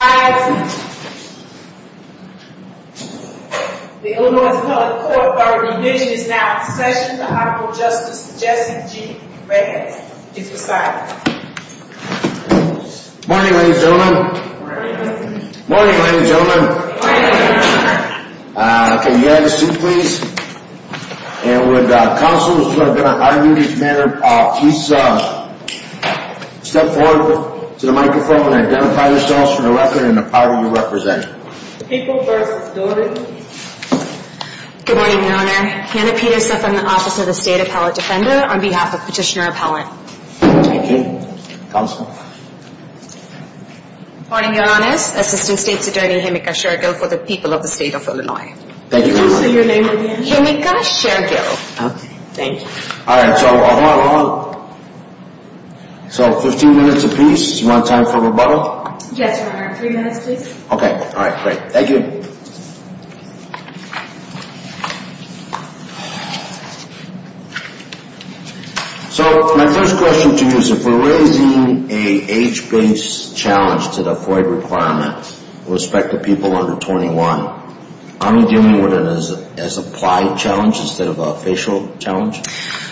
Good morning, ladies and gentlemen. Good morning, ladies and gentlemen. Can you have a seat, please? And would counsel, who's going to argue this matter, please step forward to the microphone and identify yourselves for the record and the party you represent. People v. Doehring. Good morning, Your Honor. Hannah Peterson from the Office of the State Appellate Defender on behalf of Petitioner Appellant. Thank you. Counsel? Good morning, Your Honors. Assistant State's Attorney Himika Shergill for the people of the state of Illinois. Thank you very much. Could you say your name again? Himika Shergill. Okay. Thank you. All right. So hold on, hold on. So 15 minutes apiece. Do you want time for rebuttal? Yes, Your Honor. Three minutes, please. Okay. All right. Great. Thank you. So my first question to you is if we're raising an age-based challenge to the FOIA requirement with respect to people under 21, aren't we dealing with it as applied challenge instead of a facial challenge?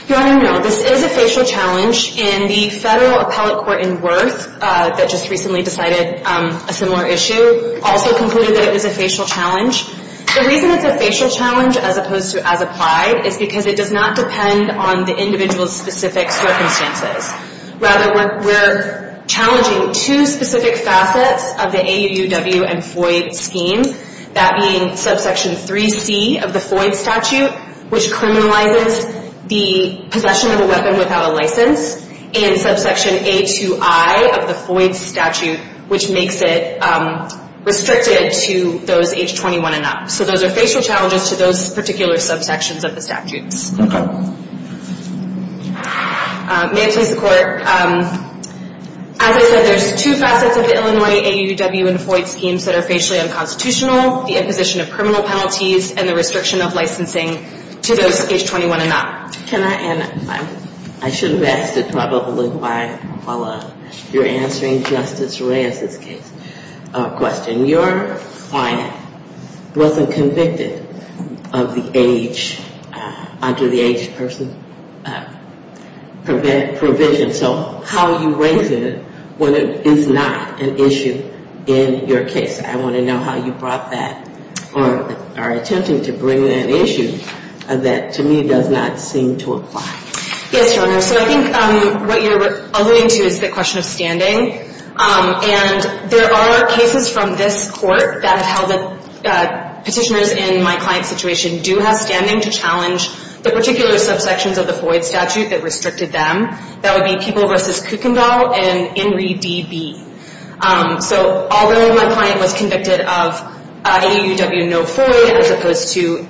Your Honor, no. This is a facial challenge. And the federal appellate court in Worth that just recently decided a similar issue also concluded that it was a facial challenge. The reason it's a facial challenge as opposed to as applied is because it does not depend on the individual's specific circumstances. Rather, we're challenging two specific facets of the AUUW and FOIA scheme, that being subsection 3C of the FOIA statute, which criminalizes the possession of a weapon without a license, and subsection A2I of the FOIA statute, which makes it restricted to those age 21 and up. So those are facial challenges to those particular subsections of the statutes. Okay. May it please the Court. As I said, there's two facets of the Illinois AUW and FOIA schemes that are facially unconstitutional, the imposition of criminal penalties and the restriction of licensing to those age 21 and up. Can I add? I should have asked it probably while you're answering Justice Reyes's question. Your client wasn't convicted of the age under the age person provision, so how are you raising it when it is not an issue in your case? I want to know how you brought that or are attempting to bring that issue that to me does not seem to apply. Yes, Your Honor. So I think what you're alluding to is the question of standing. And there are cases from this Court that have held that petitioners in my client's situation do have standing to challenge the particular subsections of the FOIA statute that restricted them. That would be People v. Kuykendall and Inree D.B. So although my client was convicted of AUW, no FOIA, as opposed to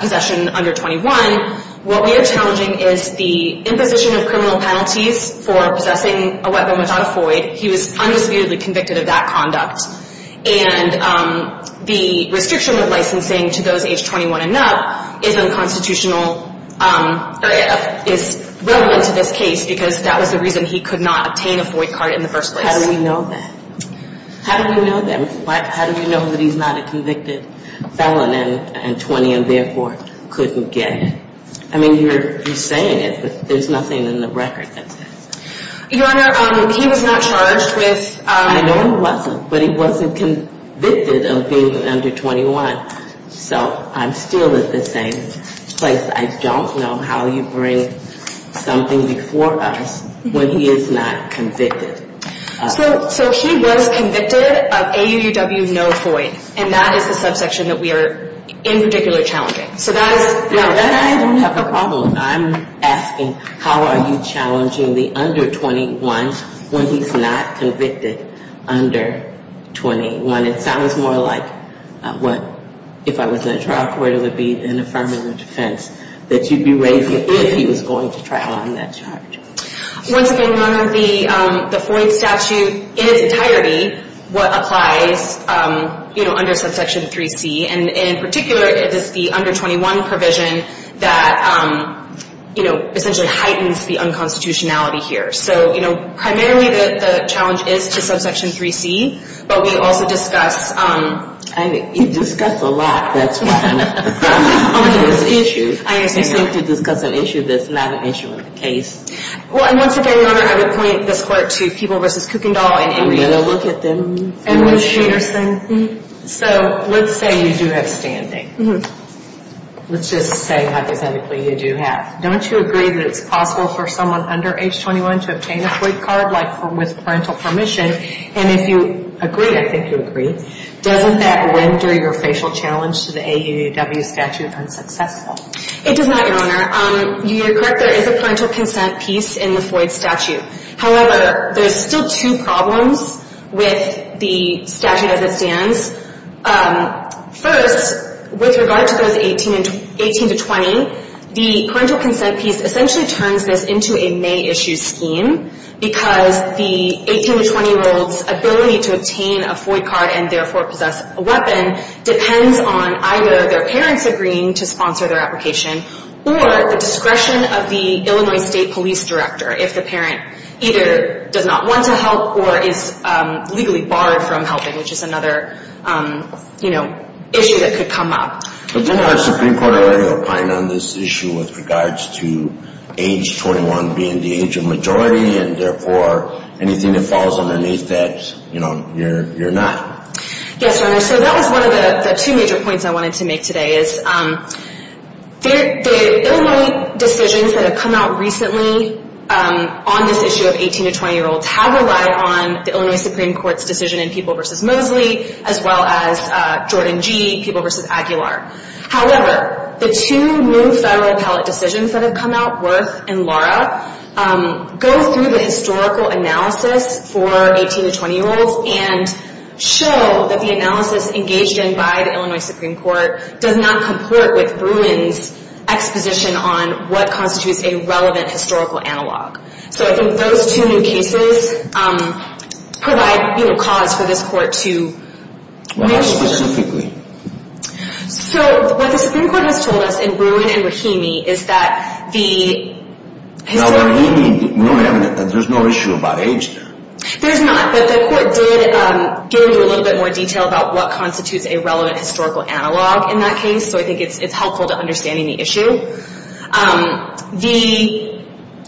possession under 21, what we are challenging is the imposition of criminal penalties for possessing a weapon without a FOIA. He was undisputedly convicted of that conduct. And the restriction of licensing to those age 21 and up is unconstitutional or is relevant to this case because that was the reason he could not obtain a FOIA card in the first place. How do we know that? How do we know that? How do we know that he's not a convicted felon and 20 and therefore couldn't get it? I mean, you're saying it, but there's nothing in the record that says that. Your Honor, he was not charged with... I know he wasn't, but he wasn't convicted of being under 21. So I'm still at the same place. I don't know how you bring something before us when he is not convicted. So he was convicted of AUW, no FOIA, and that is the subsection that we are in particular challenging. So that is... No, then I don't have a problem. I'm asking how are you challenging the under 21 when he's not convicted under 21. It sounds more like if I was in a trial court, it would be an affirmative defense that you'd be raising if he was going to trial on that charge. Once again, Your Honor, the FOIA statute in its entirety, what applies under subsection 3C, and in particular it is the under 21 provision that essentially heightens the unconstitutionality here. So primarily the challenge is to subsection 3C, but we also discuss... You discuss a lot, that's fine. It's an issue. You seem to discuss an issue that's not an issue in the case. Well, and once again, Your Honor, I would point this court to Peeble v. Kuykendall. I'm going to look at them. And Ms. Peterson. So let's say you do have standing. Let's just say hypothetically you do have. Don't you agree that it's possible for someone under age 21 to obtain a free card like with parental permission? And if you agree, I think you agree, doesn't that render your facial challenge to the AAUW statute unsuccessful? It does not, Your Honor. You're correct. There is a parental consent piece in the FOIA statute. However, there's still two problems with the statute as it stands. First, with regard to those 18 to 20, the parental consent piece essentially turns this into a May issue scheme because the 18 to 20-year-old's ability to obtain a FOIA card and therefore possess a weapon depends on either their parents agreeing to sponsor their application or the discretion of the Illinois State Police Director if the parent either does not want to help or is legally barred from helping, which is another, you know, issue that could come up. But didn't our Supreme Court already opine on this issue with regards to age 21 being the age of majority and therefore anything that falls underneath that, you know, you're not? Yes, Your Honor. So that was one of the two major points I wanted to make today is the Illinois decisions that have come out recently on this issue of 18 to 20-year-olds have relied on the Illinois Supreme Court's decision in People v. Mosley as well as Jordan G., People v. Aguilar. However, the two new federal appellate decisions that have come out, Wirth and Lara, go through the historical analysis for 18 to 20-year-olds and show that the analysis engaged in by the Illinois Supreme Court does not comport with Bruin's exposition on what constitutes a relevant historical analog. So I think those two new cases provide, you know, cause for this court to move forward. Why specifically? So what the Supreme Court has told us in Bruin and Rahimi is that the... Now Rahimi, we know that there's no issue about age there. There's not, but the court did give you a little bit more detail about what constitutes a relevant historical analog in that case, so I think it's helpful to understanding the issue.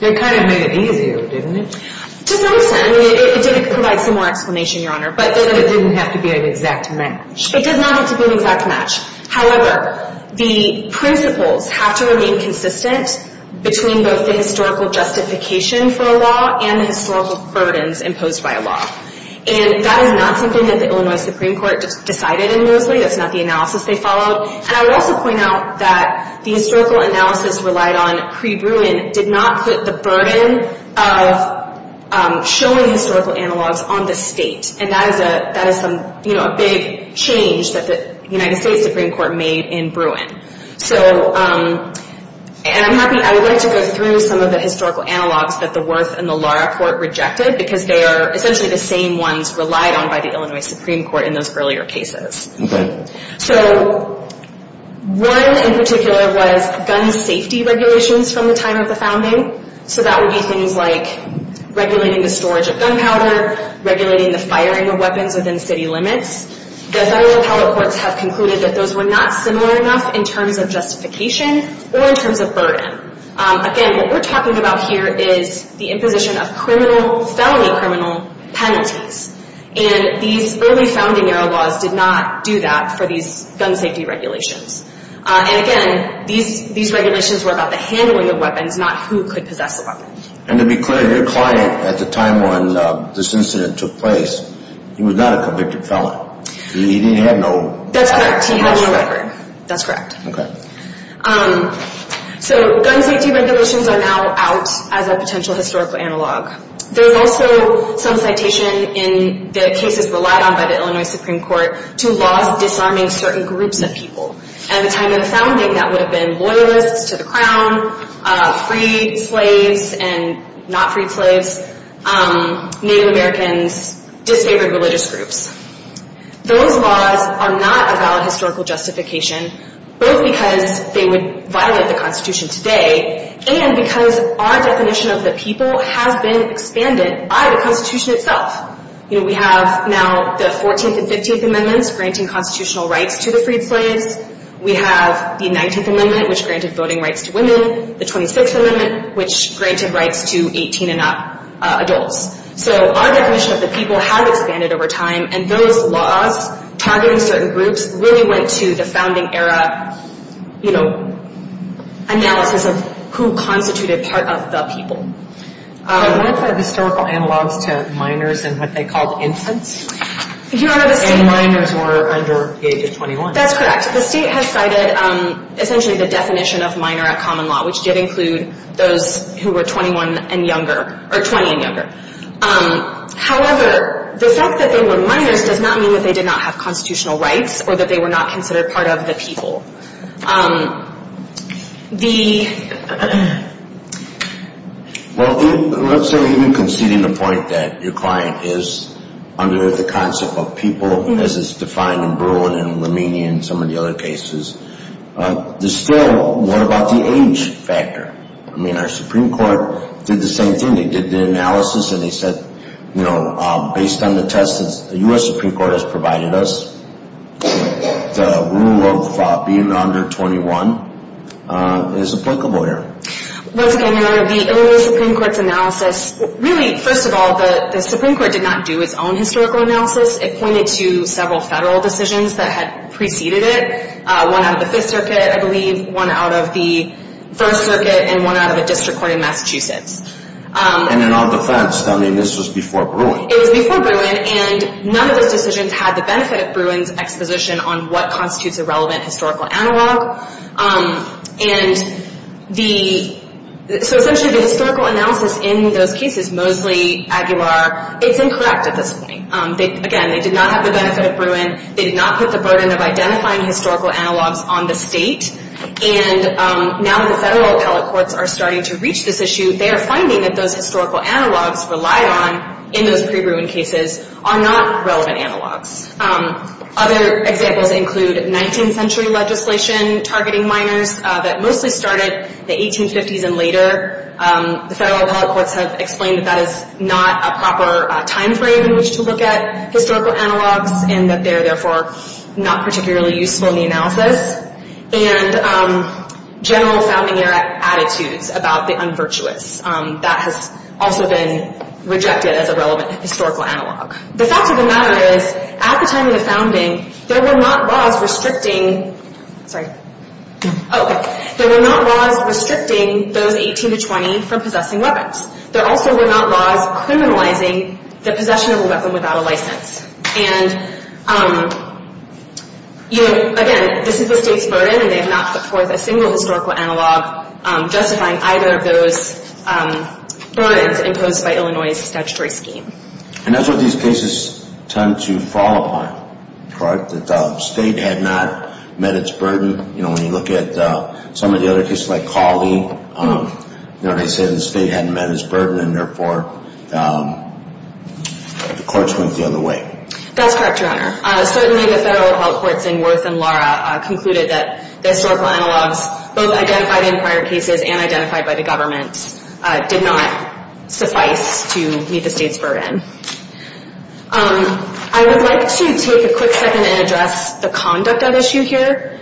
It kind of made it easier, didn't it? To some extent. I mean, it did provide some more explanation, Your Honor. But it didn't have to be an exact match. It did not have to be an exact match. However, the principles have to remain consistent between both the historical justification for a law and the historical burdens imposed by a law. And that is not something that the Illinois Supreme Court decided in Mosley. That's not the analysis they followed. And I would also point out that the historical analysis relied on pre-Bruin did not put the burden of showing historical analogs on the state. And that is a big change that the United States Supreme Court made in Bruin. And I would like to go through some of the historical analogs that the Worth and the Lara Court rejected because they are essentially the same ones relied on by the Illinois Supreme Court in those earlier cases. Okay. So one in particular was gun safety regulations from the time of the founding. So that would be things like regulating the storage of gunpowder, regulating the firing of weapons within city limits. The federal appellate courts have concluded that those were not similar enough in terms of justification or in terms of burden. Again, what we're talking about here is the imposition of felony criminal penalties. And these early founding era laws did not do that for these gun safety regulations. And, again, these regulations were about the handling of weapons, not who could possess the weapon. And to be clear, your client at the time when this incident took place, he was not a convicted felon. He didn't have no... That's correct. He had no record. That's correct. Okay. So gun safety regulations are now out as a potential historical analog. There's also some citation in the cases relied on by the Illinois Supreme Court to laws disarming certain groups of people. At the time of the founding, that would have been loyalists to the crown, freed slaves and not freed slaves, Native Americans, disfavored religious groups. Those laws are not a valid historical justification, both because they would violate the Constitution today and because our definition of the people has been expanded by the Constitution itself. We have now the 14th and 15th Amendments granting constitutional rights to the freed slaves. We have the 19th Amendment, which granted voting rights to women, the 26th Amendment, which granted rights to 18 and up adults. So our definition of the people has expanded over time, and those laws targeting certain groups really went to the founding era, you know, analysis of who constituted part of the people. But what about historical analogs to minors and what they called infants? Your Honor, the state... And minors were under the age of 21. That's correct. The state has cited essentially the definition of minor at common law, which did include those who were 21 and younger, or 20 and younger. However, the fact that they were minors does not mean that they did not have constitutional rights or that they were not considered part of the people. Well, so even conceding the point that your client is under the concept of people, as it's defined in Berlin and Liminia and some of the other cases, there's still more about the age factor. I mean, our Supreme Court did the same thing. They did the analysis, and they said, you know, based on the test that the U.S. Supreme Court has provided us, the rule of being under 21 is applicable here. Once again, your Honor, the Illinois Supreme Court's analysis, really, first of all, the Supreme Court did not do its own historical analysis. It pointed to several federal decisions that had preceded it, one out of the Fifth Circuit, I believe, one out of the First Circuit, and one out of a district court in Massachusetts. And in our defense, I mean, this was before Bruin. It was before Bruin, and none of those decisions had the benefit of Bruin's exposition on what constitutes a relevant historical analog. And so essentially the historical analysis in those cases, Mosley, Aguilar, it's incorrect at this point. Again, they did not have the benefit of Bruin. They did not put the burden of identifying historical analogs on the state. And now that the federal appellate courts are starting to reach this issue, they are finding that those historical analogs relied on in those pre-Bruin cases are not relevant analogs. Other examples include 19th century legislation targeting minors that mostly started the 1850s and later. The federal appellate courts have explained that that is not a proper time frame in which to look at historical analogs and that they're therefore not particularly useful in the analysis. And general founding era attitudes about the unvirtuous, that has also been rejected as a relevant historical analog. The fact of the matter is, at the time of the founding, there were not laws restricting those 18 to 20 from possessing weapons. There also were not laws criminalizing the possession of a weapon without a license. And, again, this is the state's burden and they have not put forth a single historical analog justifying either of those burdens imposed by Illinois' statutory scheme. And that's what these cases tend to fall upon, that the state had not met its burden. When you look at some of the other cases like Cawley, they said the state hadn't met its burden and, therefore, the courts went the other way. That's correct, Your Honor. Certainly the federal appellate courts in Worth and Lara concluded that the historical analogs, both identified in prior cases and identified by the government, did not suffice to meet the state's burden. I would like to take a quick second and address the conduct at issue here.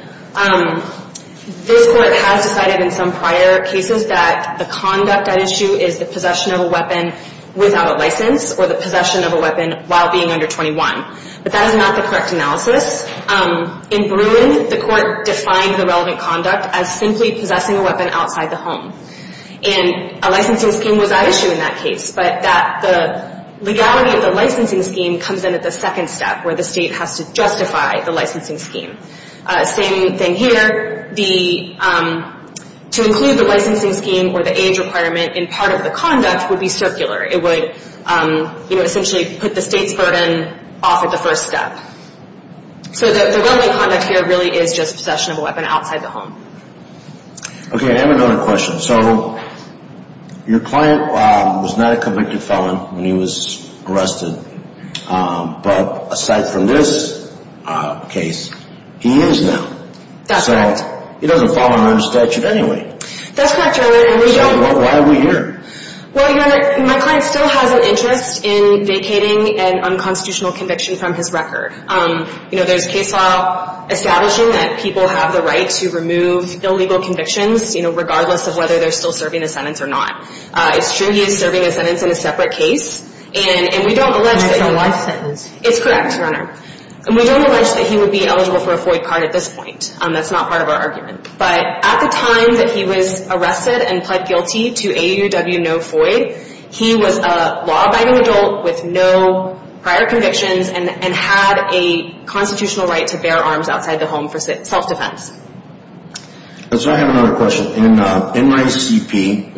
This court has decided in some prior cases that the conduct at issue is the possession of a weapon without a license or the possession of a weapon while being under 21. But that is not the correct analysis. In Bruin, the court defined the relevant conduct as simply possessing a weapon outside the home. And a licensing scheme was at issue in that case, but the legality of the licensing scheme comes in at the second step where the state has to justify the licensing scheme. Same thing here. To include the licensing scheme or the age requirement in part of the conduct would be circular. It would essentially put the state's burden off at the first step. So the relevant conduct here really is just possession of a weapon outside the home. Okay, I have another question. So your client was not a convicted felon when he was arrested. But aside from this case, he is now. That's correct. So he doesn't fall under statute anyway. That's correct, Your Honor. So why are we here? Well, Your Honor, my client still has an interest in vacating an unconstitutional conviction from his record. You know, there's case law establishing that people have the right to remove illegal convictions, you know, regardless of whether they're still serving a sentence or not. It's true he is serving a sentence in a separate case. And we don't allege that he would be eligible for a FOID card at this point. That's not part of our argument. But at the time that he was arrested and pled guilty to AAUW no FOID, he was a law-abiding adult with no prior convictions and had a constitutional right to bear arms outside the home for self-defense. So I have another question. So in my CP,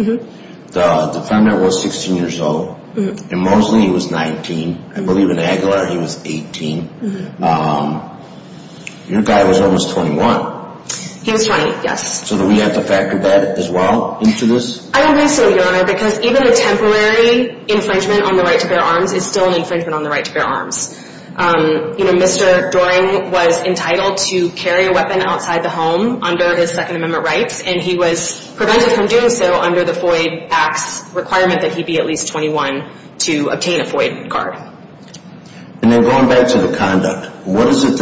the defendant was 16 years old. In Mosley, he was 19. I believe in Aguilar, he was 18. Your guy was almost 21. He was 20, yes. So do we have to factor that as well into this? I believe so, Your Honor, because even a temporary infringement on the right to bear arms is still an infringement on the right to bear arms. You know, Mr. Doering was entitled to carry a weapon outside the home under his Second Amendment rights, and he was prevented from doing so under the FOID Act's requirement that he be at least 21 to obtain a FOID card. And then going back to the conduct, what is it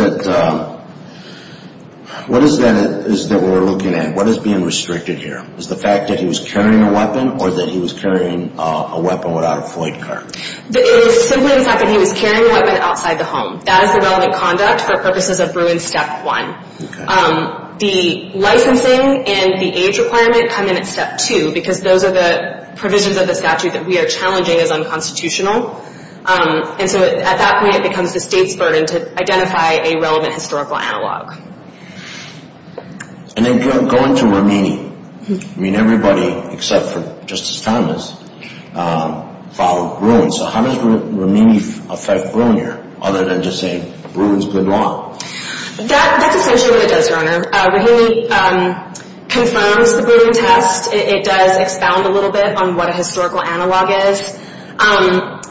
that we're looking at? What is being restricted here? Is it the fact that he was carrying a weapon or that he was carrying a weapon without a FOID card? It is simply the fact that he was carrying a weapon outside the home. That is the relevant conduct for purposes of Bruin Step 1. The licensing and the age requirement come in at Step 2 because those are the provisions of the statute that we are challenging as unconstitutional. And so at that point, it becomes the state's burden to identify a relevant historical analog. And then going to Romini, I mean, everybody except for Justice Thomas filed Bruin. So how does Romini affect Bruin here other than just saying Bruin is good law? That's essentially what it does, Your Honor. Romini confirms the Bruin test. It does expound a little bit on what a historical analog is.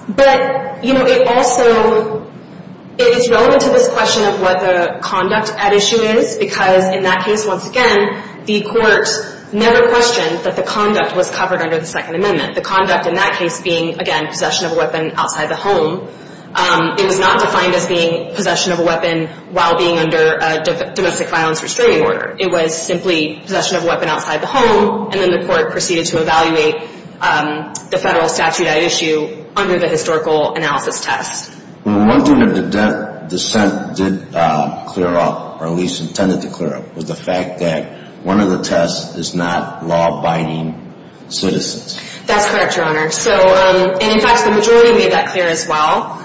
But, you know, it also is relevant to this question of what the conduct at issue is because in that case, once again, the court never questioned that the conduct was covered under the Second Amendment. The conduct in that case being, again, possession of a weapon outside the home. It was not defined as being possession of a weapon while being under a domestic violence restraining order. It was simply possession of a weapon outside the home, and then the court proceeded to evaluate the federal statute at issue under the historical analysis test. Well, one thing that the dissent did clear up, or at least intended to clear up, was the fact that one of the tests is not law-abiding citizens. That's correct, Your Honor. And, in fact, the majority made that clear as well.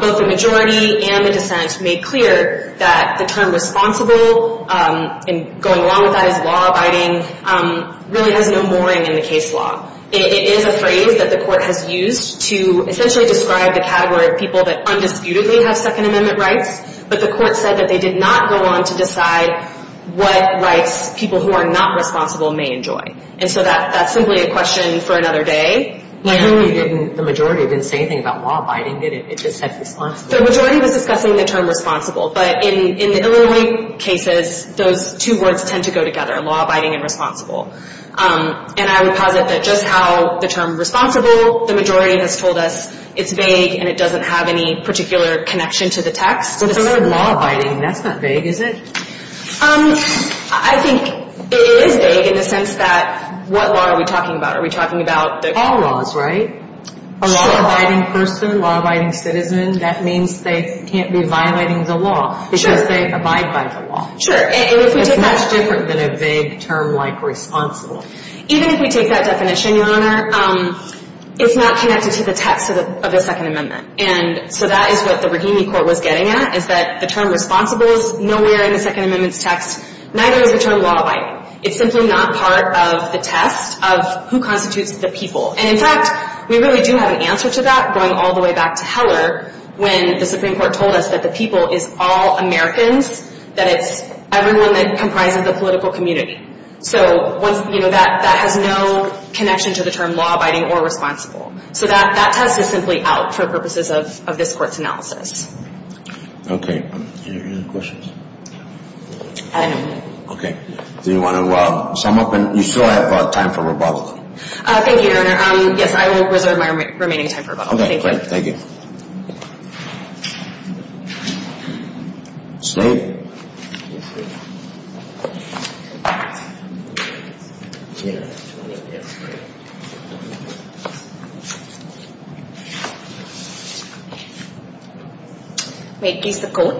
Both the majority and the dissent made clear that the term responsible, and going along with that is law-abiding, really has no mooring in the case law. It is a phrase that the court has used to essentially describe the category of people that undisputedly have Second Amendment rights, but the court said that they did not go on to decide what rights people who are not responsible may enjoy. And so that's simply a question for another day. The majority didn't say anything about law-abiding, did it? It just said responsible. The majority was discussing the term responsible, but in the Illinois cases, those two words tend to go together, law-abiding and responsible. And I would posit that just how the term responsible, the majority has told us it's vague and it doesn't have any particular connection to the text. So the term law-abiding, that's not vague, is it? I think it is vague in the sense that what law are we talking about? Are we talking about all laws, right? Sure. A law-abiding person, law-abiding citizen, that means they can't be violating the law. Sure. Because they abide by the law. Sure. It's much different than a vague term like responsible. Even if we take that definition, Your Honor, it's not connected to the text of the Second Amendment. And so that is what the Rahimi Court was getting at, is that the term responsible is nowhere in the Second Amendment's text, neither is the term law-abiding. It's simply not part of the test of who constitutes the people. And in fact, we really do have an answer to that going all the way back to Heller when the Supreme Court told us that the people is all Americans, that it's everyone that comprises the political community. So that has no connection to the term law-abiding or responsible. So that test is simply out for purposes of this Court's analysis. Okay. Any other questions? No. Okay. Do you want to sum up? You still have time for rebuttal. Thank you, Your Honor. Yes, I will reserve my remaining time for rebuttal. Okay, great. Thank you. Ms. Rahimi. Yes, Your Honor. Wait, please, the court.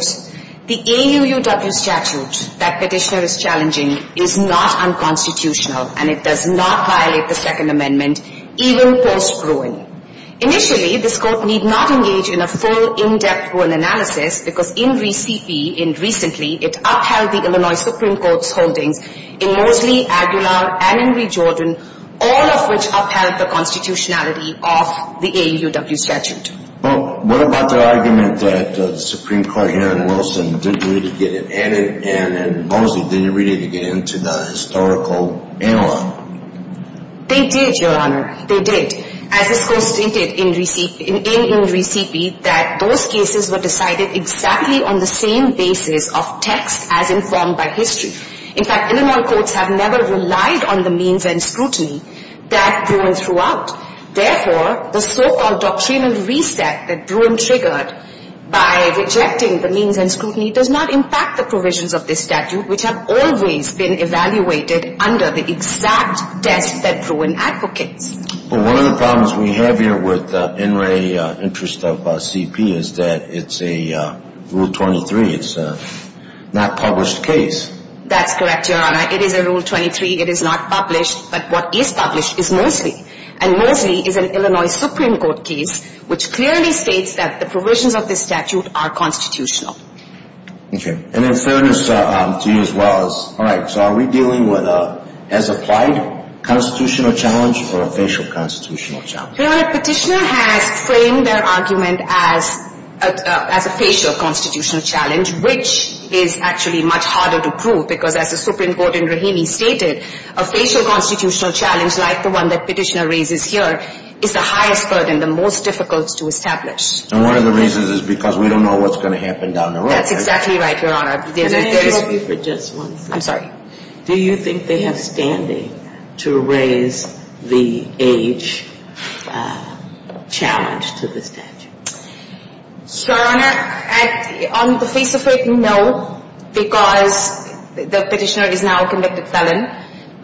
The AUUW statute that Petitioner is challenging is not unconstitutional, and it does not violate the Second Amendment, even post-ruin. Initially, this Court need not engage in a full, in-depth rule analysis because in recently, it upheld the Illinois Supreme Court's holdings in Moseley, Aguilar, and in Rejordan, all of which upheld the constitutionality of the AUUW statute. Well, what about the argument that the Supreme Court here in Wilson didn't really get it added and Moseley didn't really get it into the historical analog? They did, Your Honor. They did. As this Court stated in Recipe that those cases were decided exactly on the same basis of text as informed by history. In fact, Illinois courts have never relied on the means and scrutiny that Bruin threw out. Therefore, the so-called doctrinal reset that Bruin triggered by rejecting the means and scrutiny does not impact the provisions of this statute, which have always been evaluated under the exact test that Bruin advocates. Well, one of the problems we have here with NRA interest of CP is that it's a Rule 23. It's a not-published case. That's correct, Your Honor. It is a Rule 23. It is not published. But what is published is Moseley. And Moseley is an Illinois Supreme Court case, which clearly states that the provisions of this statute are constitutional. Okay. And in fairness to you as well, all right, so are we dealing with a as-applied constitutional challenge or a facial constitutional challenge? Your Honor, Petitioner has framed their argument as a facial constitutional challenge, which is actually much harder to prove because as the Supreme Court in Rahimi stated, a facial constitutional challenge like the one that Petitioner raises here is the highest burden, the most difficult to establish. And one of the reasons is because we don't know what's going to happen down the road. That's exactly right, Your Honor. Can I interrupt you for just one second? I'm sorry. Do you think they have standing to raise the age challenge to the statute? Your Honor, on the face of it, no, because the Petitioner is now a convicted felon.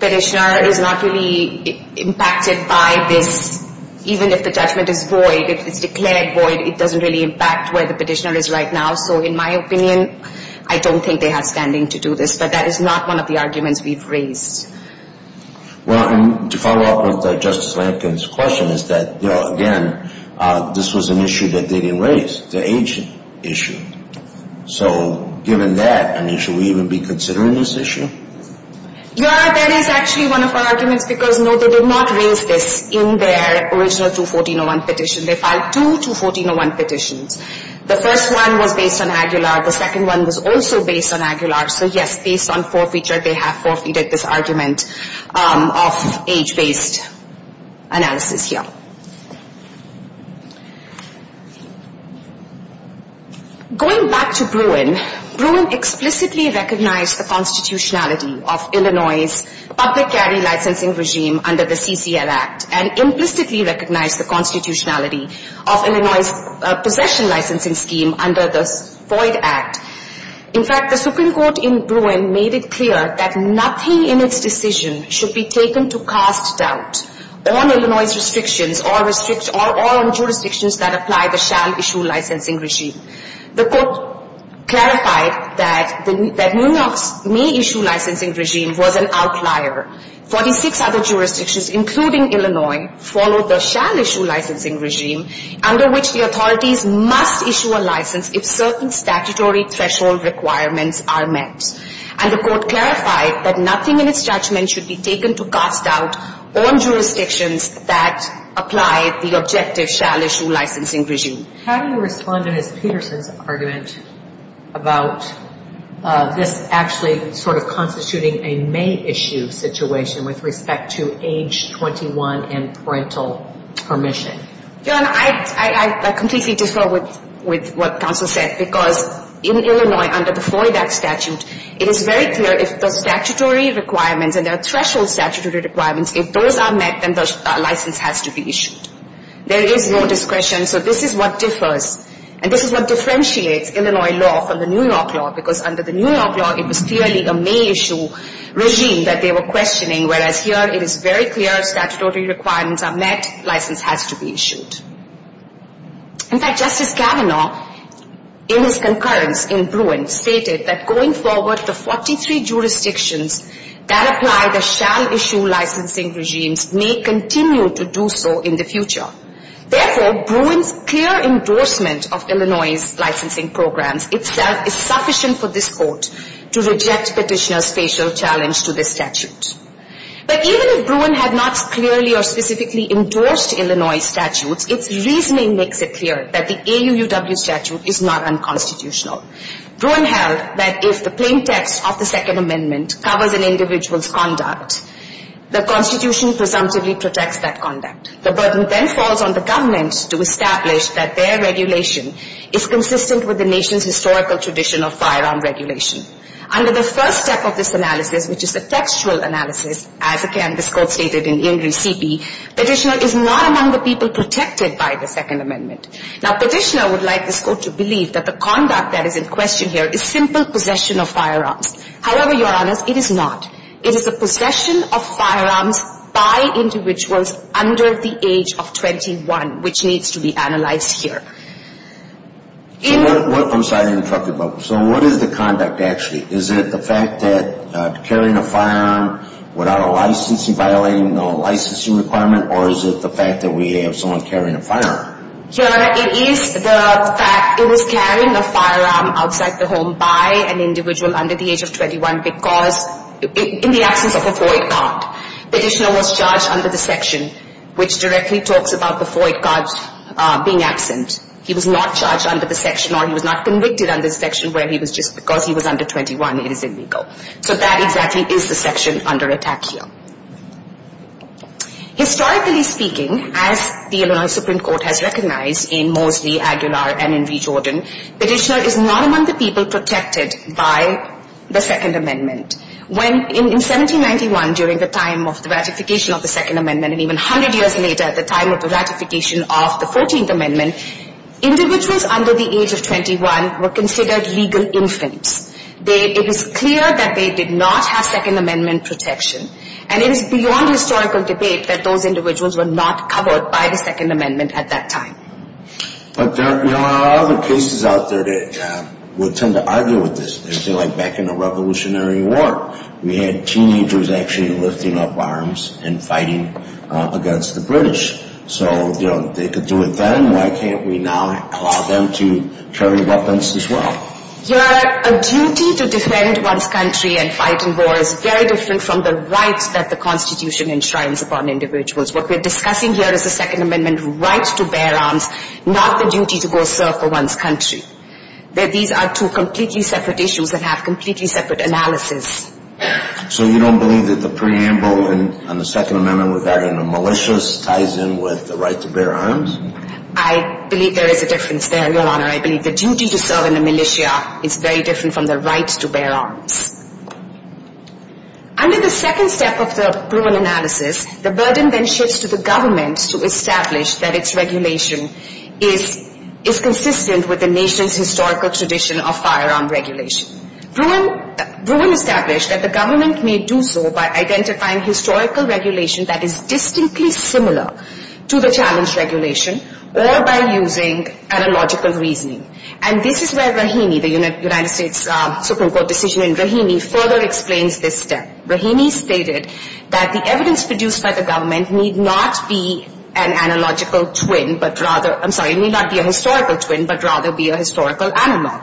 Petitioner is not really impacted by this. Even if the judgment is void, if it's declared void, it doesn't really impact where the Petitioner is right now. So in my opinion, I don't think they have standing to do this. But that is not one of the arguments we've raised. Well, and to follow up with Justice Lankin's question is that, you know, again, this was an issue that they didn't raise, the age issue. So given that, I mean, should we even be considering this issue? Your Honor, that is actually one of our arguments because, no, they did not raise this in their original 214.01 petition. They filed two 214.01 petitions. The first one was based on Aguilar. The second one was also based on Aguilar. So, yes, based on forfeiture, they have forfeited this argument of age-based analysis here. Going back to Bruin, Bruin explicitly recognized the constitutionality of Illinois' public carry licensing regime under the CCL Act and implicitly recognized the constitutionality of Illinois' possession licensing scheme under the Floyd Act. In fact, the Supreme Court in Bruin made it clear that nothing in its decision should be taken to cast doubt on Illinois' restrictions or on jurisdictions that apply the shall-issue licensing regime. The court clarified that New York's may-issue licensing regime was an outlier. Forty-six other jurisdictions, including Illinois, followed the shall-issue licensing regime, under which the authorities must issue a license if certain statutory threshold requirements are met. And the court clarified that nothing in its judgment should be taken to cast doubt on jurisdictions that apply the objective shall-issue licensing regime. How do you respond to Ms. Peterson's argument about this actually sort of constituting a may-issue situation with respect to age 21 and parental permission? I completely disagree with what counsel said, because in Illinois, under the Floyd Act statute, it is very clear if the statutory requirements and the threshold statutory requirements, if those are met, then the license has to be issued. There is no discretion, so this is what differs. And this is what differentiates Illinois law from the New York law, because under the New York law, it was clearly a may-issue regime that they were questioning, whereas here it is very clear if statutory requirements are met, license has to be issued. In fact, Justice Kavanaugh, in his concurrence in Bruin, stated that going forward, the 43 jurisdictions that apply the shall-issue licensing regimes may continue to do so in the future. Therefore, Bruin's clear endorsement of Illinois' licensing programs itself is sufficient for this court to reject Petitioner's facial challenge to this statute. But even if Bruin had not clearly or specifically endorsed Illinois' statutes, its reasoning makes it clear that the AUUW statute is not unconstitutional. Bruin held that if the plain text of the Second Amendment covers an individual's conduct, the Constitution presumptively protects that conduct. The burden then falls on the government to establish that their regulation is consistent with the nation's historical tradition of firearm regulation. Under the first step of this analysis, which is the textual analysis, as again this court stated in Ingres C.P., Petitioner is not among the people protected by the Second Amendment. Now, Petitioner would like this court to believe that the conduct that is in question here is simple possession of firearms. However, Your Honors, it is not. It is the possession of firearms by individuals under the age of 21, which needs to be analyzed here. So what is the conduct, actually? Is it the fact that carrying a firearm without a licensing, violating a licensing requirement, or is it the fact that we have someone carrying a firearm? Your Honor, it is the fact that he was carrying a firearm outside the home by an individual under the age of 21 because in the absence of a FOIA card, Petitioner was charged under the section which directly talks about the FOIA cards being absent. He was not charged under the section or he was not convicted under the section where he was just because he was under 21, it is illegal. So that exactly is the section under attack here. Historically speaking, as the Illinois Supreme Court has recognized in Moseley, Aguilar, and in Rejordan, Petitioner is not among the people protected by the Second Amendment. In 1791, during the time of the ratification of the Second Amendment, and even 100 years later at the time of the ratification of the 14th Amendment, individuals under the age of 21 were considered legal infants. It was clear that they did not have Second Amendment protection. And it is beyond historical debate that those individuals were not covered by the Second Amendment at that time. But there are other cases out there that would tend to argue with this. Back in the Revolutionary War, we had teenagers actually lifting up arms and fighting against the British. So they could do it then, why can't we now allow them to carry weapons as well? Your Honor, a duty to defend one's country and fight in war is very different from the rights that the Constitution enshrines upon individuals. What we're discussing here is the Second Amendment right to bear arms, not the duty to go serve for one's country. These are two completely separate issues that have completely separate analysis. So you don't believe that the preamble on the Second Amendment with that in a malicious ties in with the right to bear arms? I believe there is a difference there, Your Honor. I believe the duty to serve in a militia is very different from the right to bear arms. Under the second step of the Bruin analysis, the burden then shifts to the government to establish that its regulation is consistent with the nation's historical tradition of firearm regulation. Bruin established that the government may do so by identifying historical regulation that is distinctly similar to the challenge regulation, or by using analogical reasoning. And this is where Rahimi, the United States Supreme Court decision in Rahimi, further explains this step. Rahimi stated that the evidence produced by the government need not be an analogical twin, but rather, I'm sorry, may not be a historical twin, but rather be a historical animal.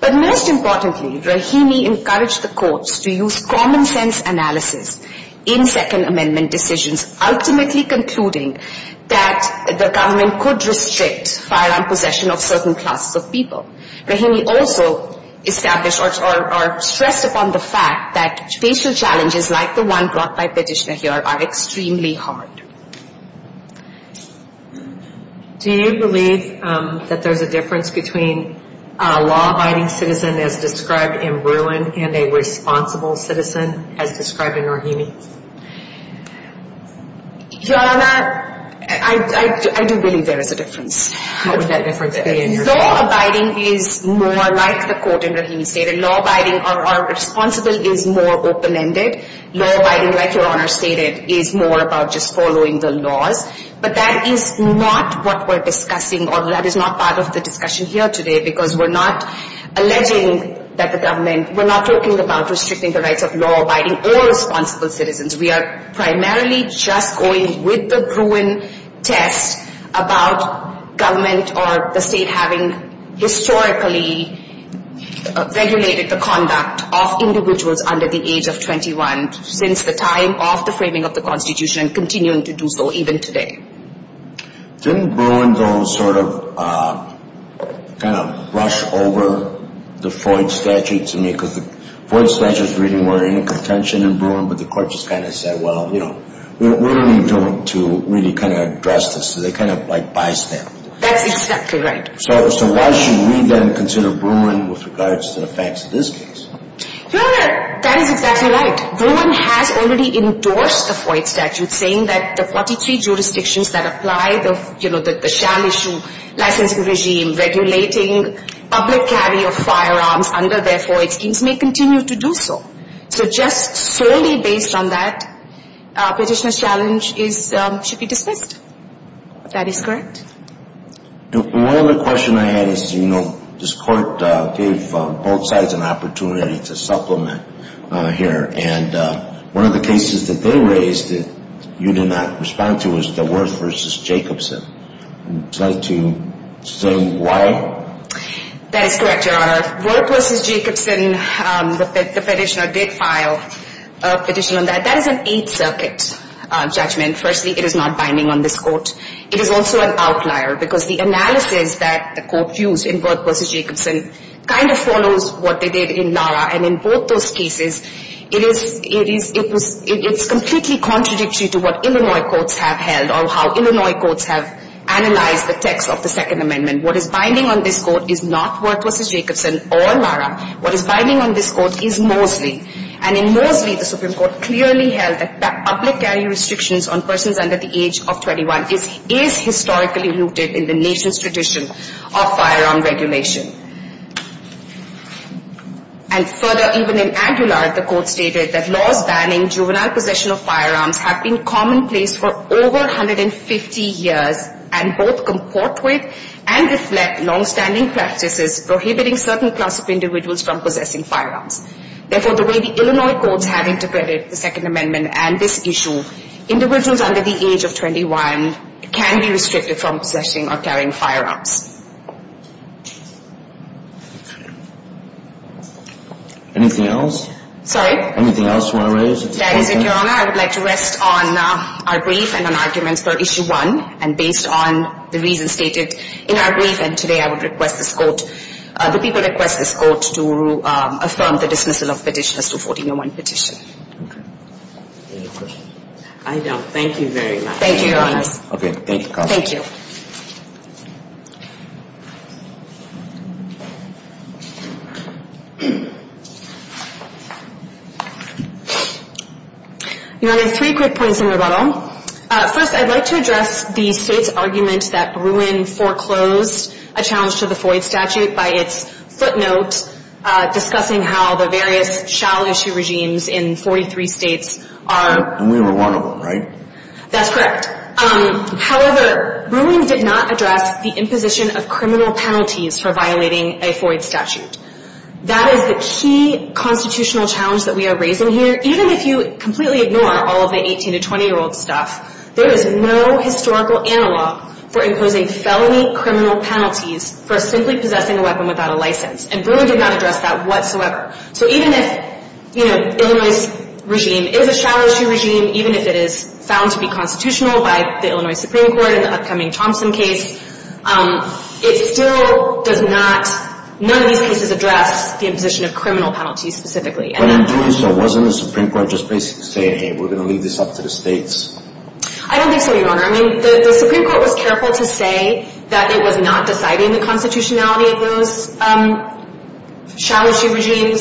But most importantly, Rahimi encouraged the courts to use common sense analysis in Second Amendment decisions, ultimately concluding that the government could restrict firearm possession of certain classes of people. Rahimi also established or stressed upon the fact that facial challenges like the one brought by Petitioner here are extremely hard. Do you believe that there's a difference between a law-abiding citizen as described in Bruin and a responsible citizen as described in Rahimi? Your Honor, I do believe there is a difference. What would that difference be in your opinion? Law-abiding is more like the court in Rahimi stated. Law-abiding or responsible is more open-ended. Law-abiding, like Your Honor stated, is more about just following the laws. But that is not what we're discussing, or that is not part of the discussion here today, because we're not alleging that the government, we're not talking about restricting the rights of law-abiding or responsible citizens. We are primarily just going with the Bruin test about government or the state having historically regulated the conduct of individuals under the age of 21 since the time of the framing of the Constitution and continuing to do so even today. Didn't Bruin, though, sort of kind of rush over the Floyd Statute to me? Because the Floyd Statute's reading were in a contention in Bruin, but the court just kind of said, well, you know, we don't need to really kind of address this. So they kind of like by-stamped it. That's exactly right. So why should we then consider Bruin with regards to the facts of this case? Your Honor, that is exactly right. Bruin has already endorsed the Floyd Statute, saying that the 43 jurisdictions that apply the sham issue, licensing regime, regulating public carry of firearms under their Floyd schemes may continue to do so. So just solely based on that, petitioner's challenge should be dismissed. If that is correct. One other question I had is, you know, this court gave both sides an opportunity to supplement here, and one of the cases that they raised that you did not respond to was the Worth v. Jacobson. Would you like to say why? That is correct, Your Honor. Worth v. Jacobson, the petitioner did file a petition on that. That is an Eighth Circuit judgment. Firstly, it is not binding on this court. It is also an outlier because the analysis that the court used in Worth v. Jacobson kind of follows what they did in NARA. And in both those cases, it is completely contradictory to what Illinois courts have held or how Illinois courts have analyzed the text of the Second Amendment. What is binding on this court is not Worth v. Jacobson or NARA. What is binding on this court is Moseley. And in Moseley, the Supreme Court clearly held that public carry restrictions on persons under the age of 21 is historically rooted in the nation's tradition of firearm regulation. And further, even in Aguilar, the court stated that laws banning juvenile possession of firearms have been commonplace for over 150 years and both comport with and reflect longstanding practices prohibiting certain class of individuals from possessing firearms. Therefore, the way the Illinois courts have interpreted the Second Amendment and this issue, individuals under the age of 21 can be restricted from possessing or carrying firearms. Anything else? Sorry? Anything else you want to raise? That is it, Your Honor. I would like to rest on our brief and on arguments for Issue 1 and based on the reasons stated in our brief. And today I would request this court, the people request this court to affirm the dismissal of Petitioner's 2401 petition. Any questions? I don't. Thank you very much. Thank you, Your Honor. Okay. Thank you. Thank you. Your Honor, three quick points in rebuttal. First, I'd like to address the state's argument that Bruin foreclosed a challenge to the Floyd statute by its footnote discussing how the various shall issue regimes in 43 states are. And we were one of them, right? That's correct. However, Bruin did not address the imposition of criminal penalties for violating a Floyd statute. That is the key constitutional challenge that we are raising here. Even if you completely ignore all of the 18- to 20-year-old stuff, there is no historical analog for imposing felony criminal penalties for simply possessing a weapon without a license. And Bruin did not address that whatsoever. So even if, you know, Illinois' regime is a shall issue regime, even if it is found to be constitutional by the Illinois Supreme Court in the upcoming Thompson case, it still does not, none of these cases address the imposition of criminal penalties specifically. But in doing so, wasn't the Supreme Court just basically saying, hey, we're going to leave this up to the states? I don't think so, Your Honor. I mean, the Supreme Court was careful to say that it was not deciding the constitutionality of those shall issue regimes,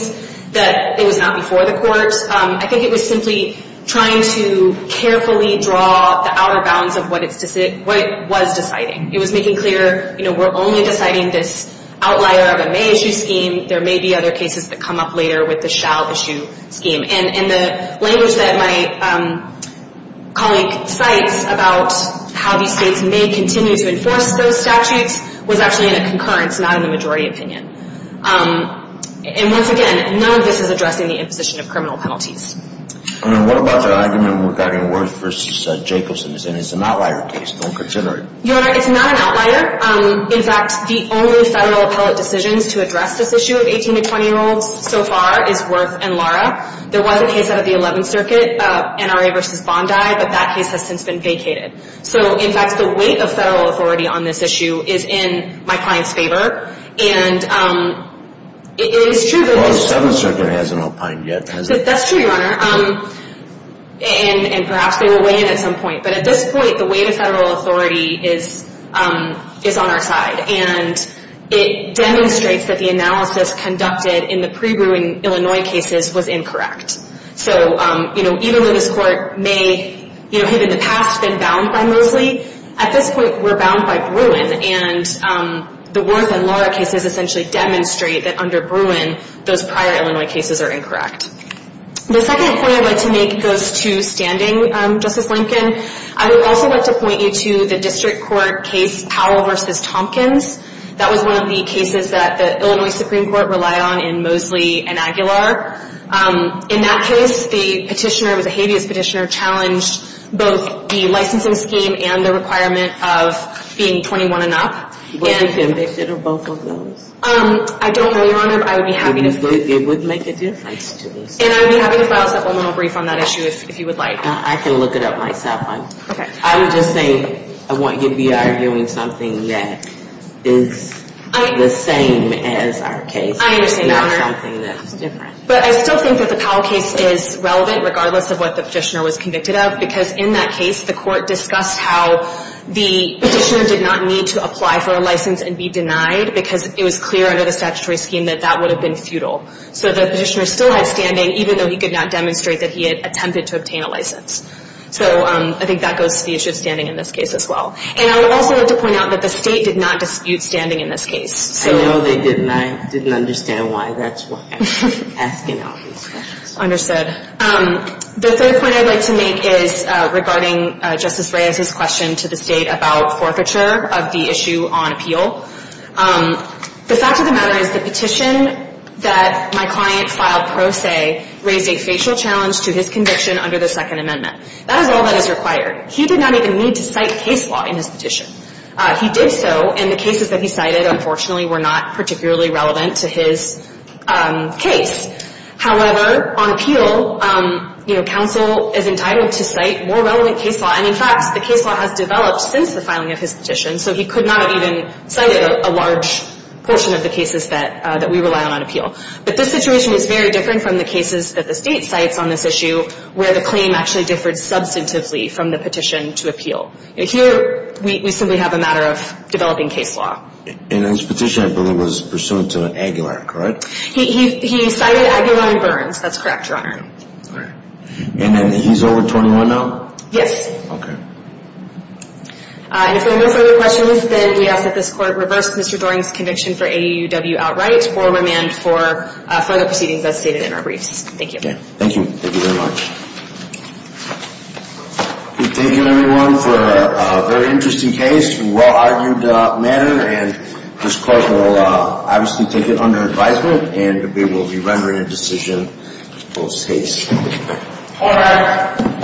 that it was not before the courts. I think it was simply trying to carefully draw the outer bounds of what it was deciding. It was making clear, you know, we're only deciding this outlier of a may issue scheme. There may be other cases that come up later with the shall issue scheme. And the language that my colleague cites about how these states may continue to enforce those statutes was actually in a concurrence, not in the majority opinion. And once again, none of this is addressing the imposition of criminal penalties. And what about the argument regarding Worth v. Jacobson, saying it's an outlier case, don't consider it? Your Honor, it's not an outlier. In fact, the only federal appellate decisions to address this issue of 18- to 20-year-olds so far is Worth and Lara. There was a case out of the 11th Circuit, NRA v. Bondi, but that case has since been vacated. So, in fact, the weight of federal authority on this issue is in my client's favor. And it is true that... Well, the 7th Circuit hasn't opined yet, has it? That's true, Your Honor. And perhaps they will weigh in at some point. But at this point, the weight of federal authority is on our side. And it demonstrates that the analysis conducted in the pre-Bruin, Illinois cases was incorrect. So, you know, even though this court may, you know, have in the past been bound by Mosley, at this point we're bound by Bruin. And the Worth and Lara cases essentially demonstrate that under Bruin, those prior Illinois cases are incorrect. The second point I'd like to make goes to standing, Justice Lincoln. I would also like to point you to the district court case Powell v. Tompkins. That was one of the cases that the Illinois Supreme Court relied on in Mosley and Aguilar. In that case, the petitioner, it was a habeas petitioner, challenged both the licensing scheme and the requirement of being 21 and up. Was he convicted of both of those? I don't know, Your Honor, but I would be happy to... It would make a difference to this case. And I would be happy to file a supplemental brief on that issue if you would like. I can look it up myself. Okay. I would just say I want you to be arguing something that is the same as our case. I understand, Your Honor. But I still think that the Powell case is relevant, regardless of what the petitioner was convicted of, because in that case, the court discussed how the petitioner did not need to apply for a license and be denied because it was clear under the statutory scheme that that would have been futile. So the petitioner still had standing, even though he could not demonstrate that he had attempted to obtain a license. So I think that goes to the issue of standing in this case as well. And I would also like to point out that the state did not dispute standing in this case. I know they didn't. I didn't understand why. That's why I'm asking all these questions. Understood. The third point I'd like to make is regarding Justice Reyes's question to the state about forfeiture of the issue on appeal. The fact of the matter is the petition that my client filed pro se raised a facial challenge to his conviction under the Second Amendment. That is all that is required. He did not even need to cite case law in his petition. He did so, and the cases that he cited, unfortunately, were not particularly relevant to his case. However, on appeal, you know, counsel is entitled to cite more relevant case law. And, in fact, the case law has developed since the filing of his petition, so he could not have even cited a large portion of the cases that we rely on on appeal. But this situation is very different from the cases that the state cites on this issue, where the claim actually differed substantively from the petition to appeal. Here, we simply have a matter of developing case law. And his petition, I believe, was pursuant to Aguilar, correct? He cited Aguilar and Burns. That's correct, Your Honor. All right. And then he's over 21 now? Yes. Okay. If there are no further questions, then we ask that this Court reverse Mr. Doring's conviction for AUW outright or remand for further proceedings as stated in our briefs. Thank you. Thank you. Thank you very much. Thank you, everyone, for a very interesting case in a well-argued manner. And this Court will obviously take it under advisement, and we will be rendering a decision post-case. All right.